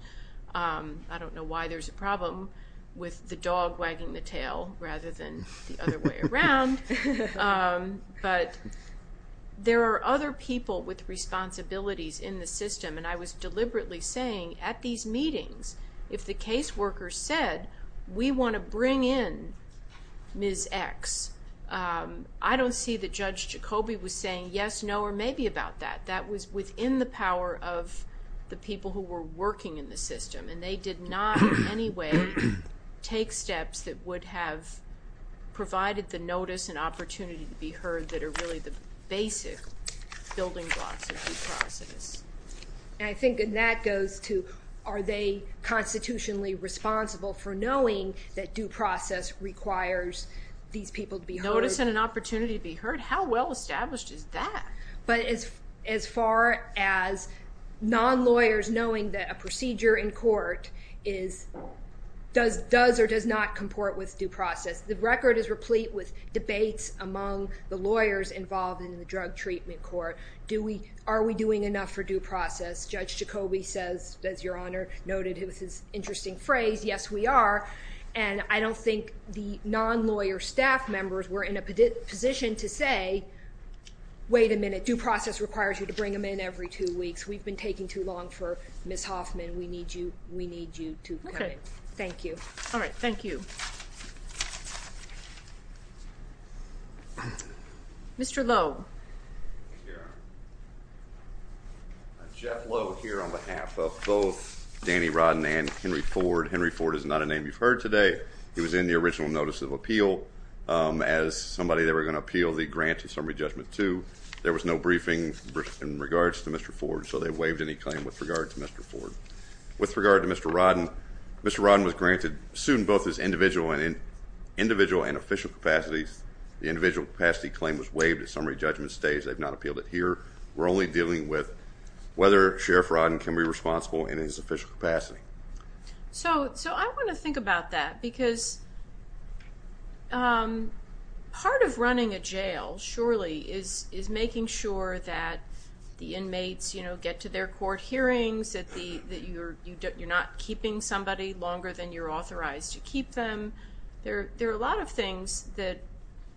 I don't know why there's a problem with the dog wagging the tail rather than the other way around. But there are other people with responsibilities in the system, and I was deliberately saying at these meetings, if the caseworker said, we want to bring in Ms. X, I don't see that Judge Jacobi was saying yes, no, or maybe about that. That was within the power of the people who were working in the system, and they did not in any way take steps that would have provided the notice and opportunity to be heard that are really the basic building blocks of due process. And I think that goes to, are they constitutionally responsible for knowing that due process requires these people to be heard? Notice and an opportunity to be heard? How well established is that? But as, as far as non-lawyers knowing that a procedure in court is, does, does or does not comport with due process, the record is replete with debates among the lawyers involved in the drug treatment court. Do we, are we doing enough for due process? Judge Jacobi says, as Your Honor noted, it was his interesting phrase, yes we are, and I don't think the non-lawyer staff members were in a position to say, wait a minute, due process requires you bring them in every two weeks. We've been taking too long for Ms. Hoffman. We need you, we need you to come in. Okay. Thank you. All right, thank you. Mr. Lowe. Jeff Lowe here on behalf of both Danny Rodman and Henry Ford. Henry Ford is not a name you've heard today. He was in the original notice of appeal as somebody they were going to appeal the grant in summary judgment two. There was no briefing in regards to Mr. Ford, so they waived any claim with regard to Mr. Ford. With regard to Mr. Rodden, Mr. Rodden was granted, sued in both his individual and in, individual and official capacities. The individual capacity claim was waived at summary judgment stage. They've not appealed it here. We're only dealing with whether Sheriff Rodden can be responsible in his official capacity. So, so I want to think about that because part of running a jail, surely, is, is making sure that the inmates, you know, get to their court hearings, that the, that you're, you're not keeping somebody longer than you're authorized to keep them. There, there are a lot of things that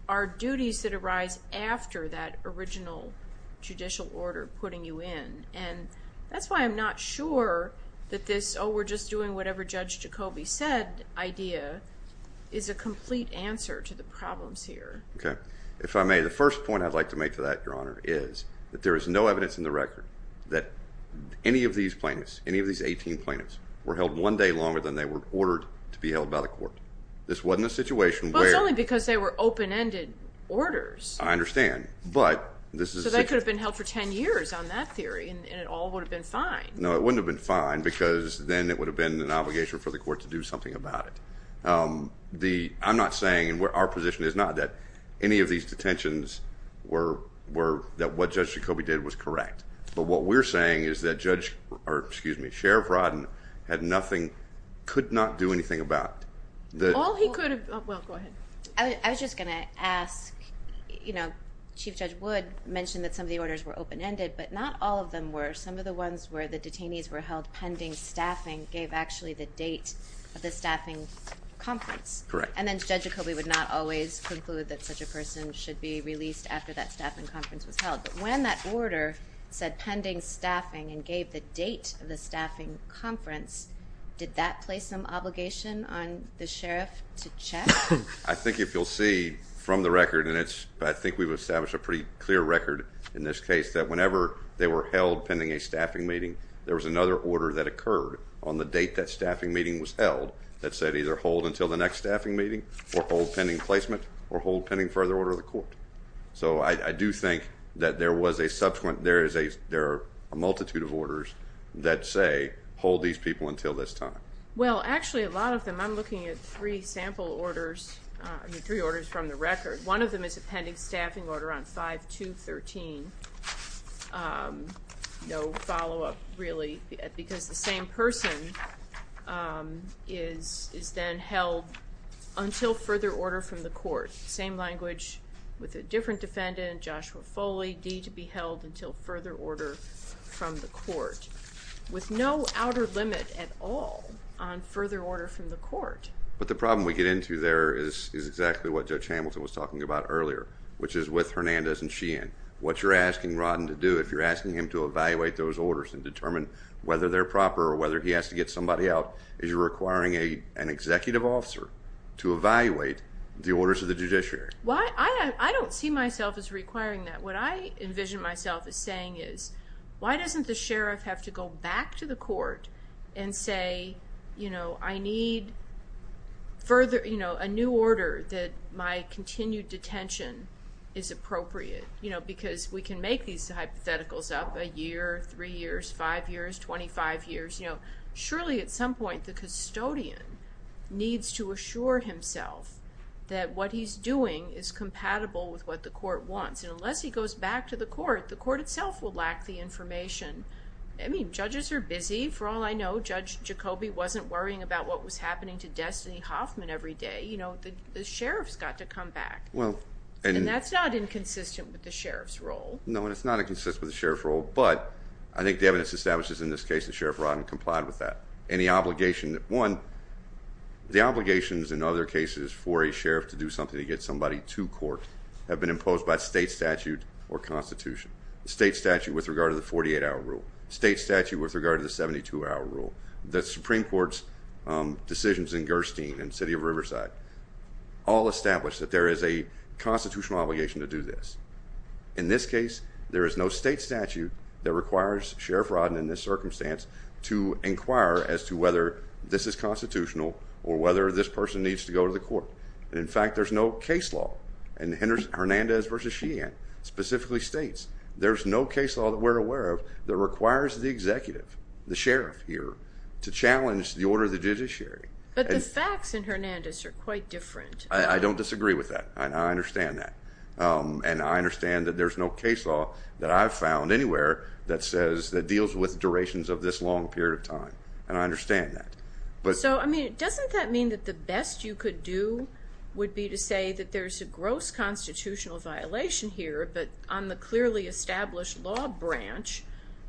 are duties that arise after that original judicial order putting you in. And that's why I'm not sure that this, oh, we're just doing whatever Judge Jacobi said idea is a complete answer to the problems here. Okay. If I may, the first point I'd like to make to that, Your Honor, is that there is no evidence in the record that any of these plaintiffs, any of these 18 plaintiffs, were held one day longer than they were ordered to be held by the court. This wasn't a situation where... Well, it's only because they were open-ended orders. I understand, but this is... So they could have been held for 10 years on that theory and it all would have been fine. No, it wouldn't have been fine because then it would have been an obligation for the court to do something about it. The, I'm not saying, and where our position is not, that any of these detentions were, were that what Judge Jacobi did was correct. But what we're saying is that Judge, or excuse me, Sheriff Rodden had nothing, could not do anything about the... All he could have... Well, go ahead. I was just gonna ask, you know, Chief Judge Wood mentioned that some of were open-ended, but not all of them were. Some of the ones where the detainees were held pending staffing gave actually the date of the staffing conference. Correct. And then Judge Jacobi would not always conclude that such a person should be released after that staffing conference was held. But when that order said pending staffing and gave the date of the staffing conference, did that place some obligation on the Sheriff to check? I think if you'll see from the record, and it's, I think we've established a pretty clear record in this case, that whenever they were held pending a staffing meeting, there was another order that occurred on the date that staffing meeting was held that said either hold until the next staffing meeting or hold pending placement or hold pending further order of the court. So I do think that there was a subsequent, there is a, there are a multitude of orders that say hold these people until this time. Well, actually a lot of them, I'm looking at three sample orders, I mean three orders from the record. One of them is a pending staffing order on 5-2-13, no follow-up really, because the same person is then held until further order from the court. Same language with a different defendant, Joshua Foley, D to be held until further order from the court, with no outer limit at all on further order from the court. But the problem we get into there is exactly what Judge Hamilton was talking about earlier, which is with Hernandez and Sheehan. What you're asking Rodden to do, if you're asking him to evaluate those orders and determine whether they're proper or whether he has to get somebody out, is you're requiring an executive officer to evaluate the orders of the judiciary. Why, I don't see myself as requiring that. What I envision myself as saying is, why doesn't the sheriff have to go back to the court and say, you know, I need further, you know, a new order that my continued detention is appropriate, you know, because we can make these hypotheticals up a year, three years, five years, 25 years, you know. Surely at some point the custodian needs to assure himself that what he's doing is compatible with what the court wants. And unless he goes back to the court, the court itself will lack the information. I mean, judges are busy. For all I know, Judge Jacobi wasn't worrying about what was happening to Destiny Hoffman every day. You know, the sheriff's got to come back. And that's not inconsistent with the sheriff's role. No, and it's not inconsistent with the sheriff's role, but I think the evidence establishes in this case that Sheriff Rodden to court have been imposed by state statute or constitution, state statute with regard to the 48 hour rule, state statute with regard to the 72 hour rule, the Supreme Court's decisions in Gerstein and city of Riverside, all established that there is a constitutional obligation to do this. In this case, there is no state statute that requires Sheriff Rodden in this circumstance to inquire as to whether this is constitutional or whether this person needs to go to the court. In fact, there's no case law. And Hernandez versus Sheehan specifically states there's no case law that we're aware of that requires the executive, the sheriff here to challenge the order of the judiciary. But the facts in Hernandez are quite different. I don't disagree with that. I understand that. And I understand that there's no case law that I've found anywhere that says that deals with durations of this long period of time. And I understand that. So, I mean, doesn't that mean that the best you could do would be to say that there's a gross constitutional violation here, but on the clearly established law branch,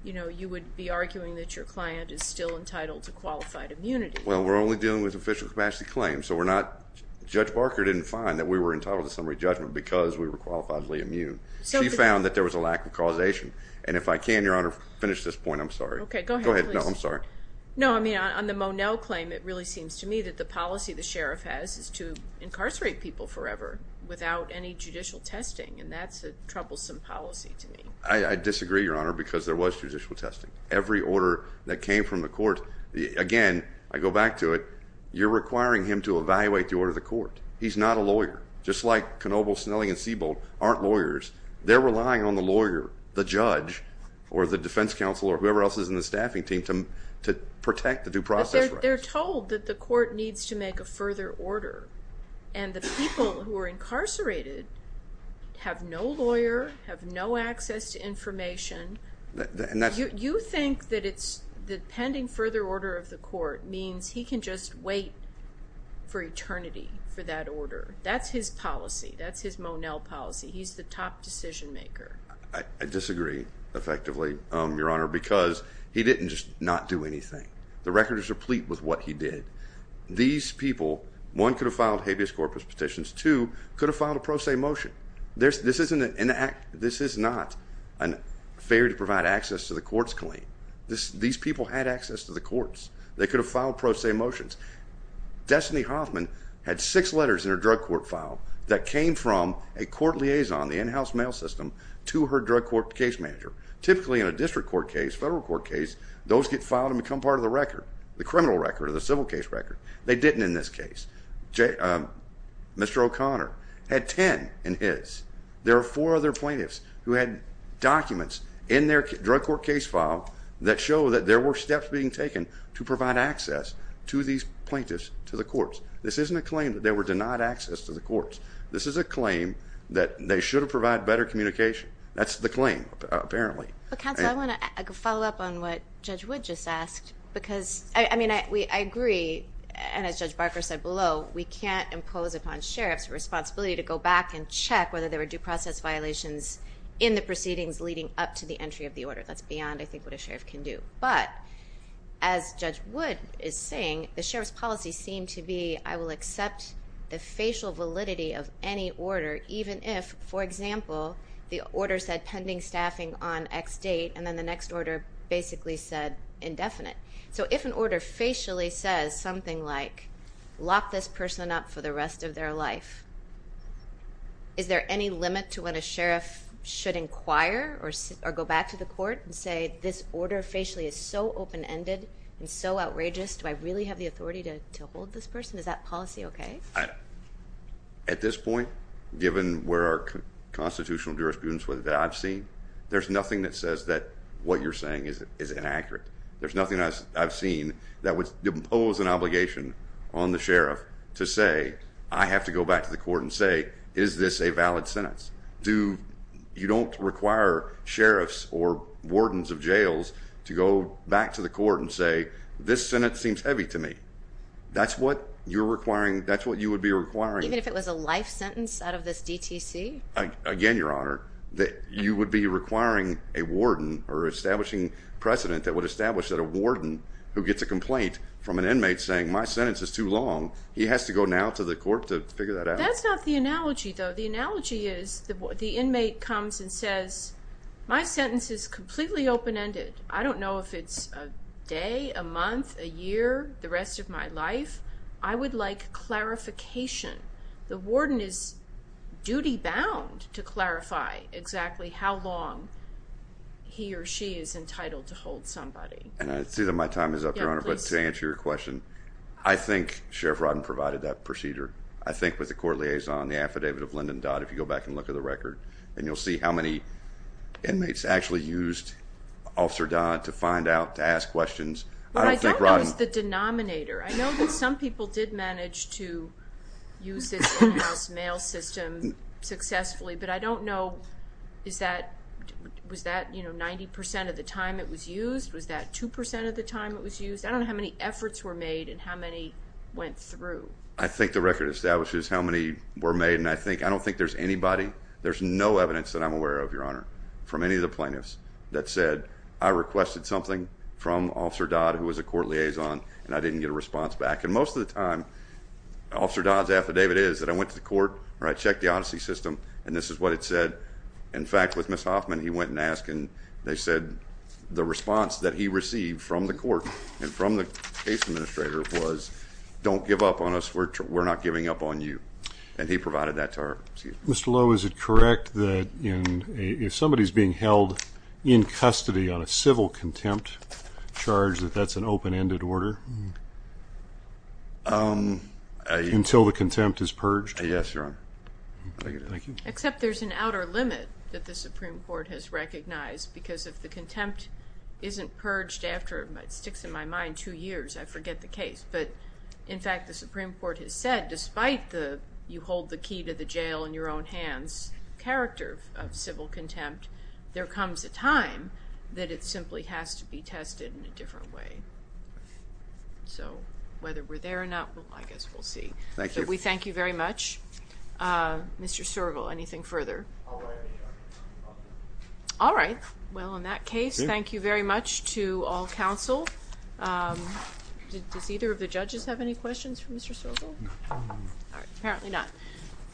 you know, you would be arguing that your client is still entitled to qualified immunity. Well, we're only dealing with official capacity claims. So we're not, Judge Barker didn't find that we were entitled to summary judgment because we were qualifiedly immune. She found that there was a lack of causation. And if I can, Your Honor, finish this point. I'm sorry. Okay, go ahead. I'm sorry. No, I mean, on the Monell claim, it really seems to me that the policy the sheriff has is to incarcerate people forever without any judicial testing. And that's a troublesome policy to me. I disagree, Your Honor, because there was judicial testing. Every order that came from the court, again, I go back to it, you're requiring him to evaluate the order of the court. He's not a lawyer, just like Knoebel, Snelling, and Siebold aren't lawyers. They're relying on the lawyer, the judge, or the defense counsel, or whoever else is in the staffing team, to protect the due process rights. They're told that the court needs to make a further order. And the people who are incarcerated have no lawyer, have no access to information. You think that it's the pending further order of the court means he can just wait for eternity for that order. That's his policy. That's his Monell policy. He's the top decision maker. I disagree, effectively, Your Honor, because he didn't just not do anything. The record is replete with what he did. These people, one, could have filed habeas corpus petitions. Two, could have filed a pro se motion. This is not a failure to provide access to the court's claim. These people had access to the courts. They could have filed pro se motions. Destiny Hoffman had six letters in her drug court file that came from a court liaison, the in-house mail system, to her drug court case manager. Typically, in a district court case, federal court case, those get filed and become part of the record, the criminal record or the civil case record. They didn't in this case. Mr. O'Connor had 10 in his. There are four other plaintiffs who had documents in their drug court case file that show that there were steps being taken to provide access to these plaintiffs to the courts. This isn't a claim that they were to provide better communication. That's the claim, apparently. But counsel, I want to follow up on what Judge Wood just asked. I agree, and as Judge Barker said below, we can't impose upon sheriffs the responsibility to go back and check whether there were due process violations in the proceedings leading up to the entry of the order. That's beyond, I think, what a sheriff can do. But as Judge Wood is saying, the sheriff's I will accept the facial validity of any order, even if, for example, the order said pending staffing on X date, and then the next order basically said indefinite. So if an order facially says something like, lock this person up for the rest of their life, is there any limit to what a sheriff should inquire or go back to the court and say, this order facially is so open-ended and so outrageous, do I really have the authority to uphold this person? Is that policy okay? At this point, given where our constitutional jurisprudence that I've seen, there's nothing that says that what you're saying is inaccurate. There's nothing I've seen that would impose an obligation on the sheriff to say, I have to go back to the court and say, is this a valid sentence? You don't require sheriffs or wardens of jails to go back to the court and say, this sentence seems heavy to me. That's what you would be requiring. Even if it was a life sentence out of this DTC? Again, Your Honor, you would be requiring a warden or establishing precedent that would establish that a warden who gets a complaint from an inmate saying, my sentence is too long, he has to go now to the court to figure that out. That's not the analogy, though. The analogy is the inmate comes and says, my sentence is completely open-ended. I don't know if it's a day, a month, a year, the rest of my life. I would like clarification. The warden is duty-bound to clarify exactly how long he or she is entitled to hold somebody. I see that my time is up, Your Honor, but to answer your question, I think Sheriff Rodden provided that procedure. I think with the court liaison, the inmates actually used Officer Dodd to find out, to ask questions. What I don't know is the denominator. I know that some people did manage to use this courthouse mail system successfully, but I don't know, was that 90% of the time it was used? Was that 2% of the time it was used? I don't know how many efforts were made and how many went through. I think the record establishes how many were made and I don't think there's anybody, there's no evidence that I'm aware of, from any of the plaintiffs, that said I requested something from Officer Dodd, who was a court liaison, and I didn't get a response back. And most of the time, Officer Dodd's affidavit is that I went to the court or I checked the odyssey system and this is what it said. In fact, with Ms. Hoffman, he went and asked and they said the response that he received from the court and from the case administrator was, don't give up on us, we're not giving up on you. And he provided that to her. Mr. Lowe, is it correct that if somebody's being held in custody on a civil contempt charge that that's an open-ended order? Until the contempt is purged? Yes, Your Honor. Except there's an outer limit that the Supreme Court has recognized because if the contempt isn't purged after, it sticks in my mind, two years, I forget the case. But in fact, the Supreme Court has said, despite the you hold the key to the jail in your own hands character of civil contempt, there comes a time that it simply has to be tested in a different way. So whether we're there or not, I guess we'll see. Thank you. But we thank you very much. Mr. Sturgill, anything further? All right. Well, in that case, thank you very much to all counsel. Um, does either of the judges have any questions for Mr. Sturgill? All right. Apparently not.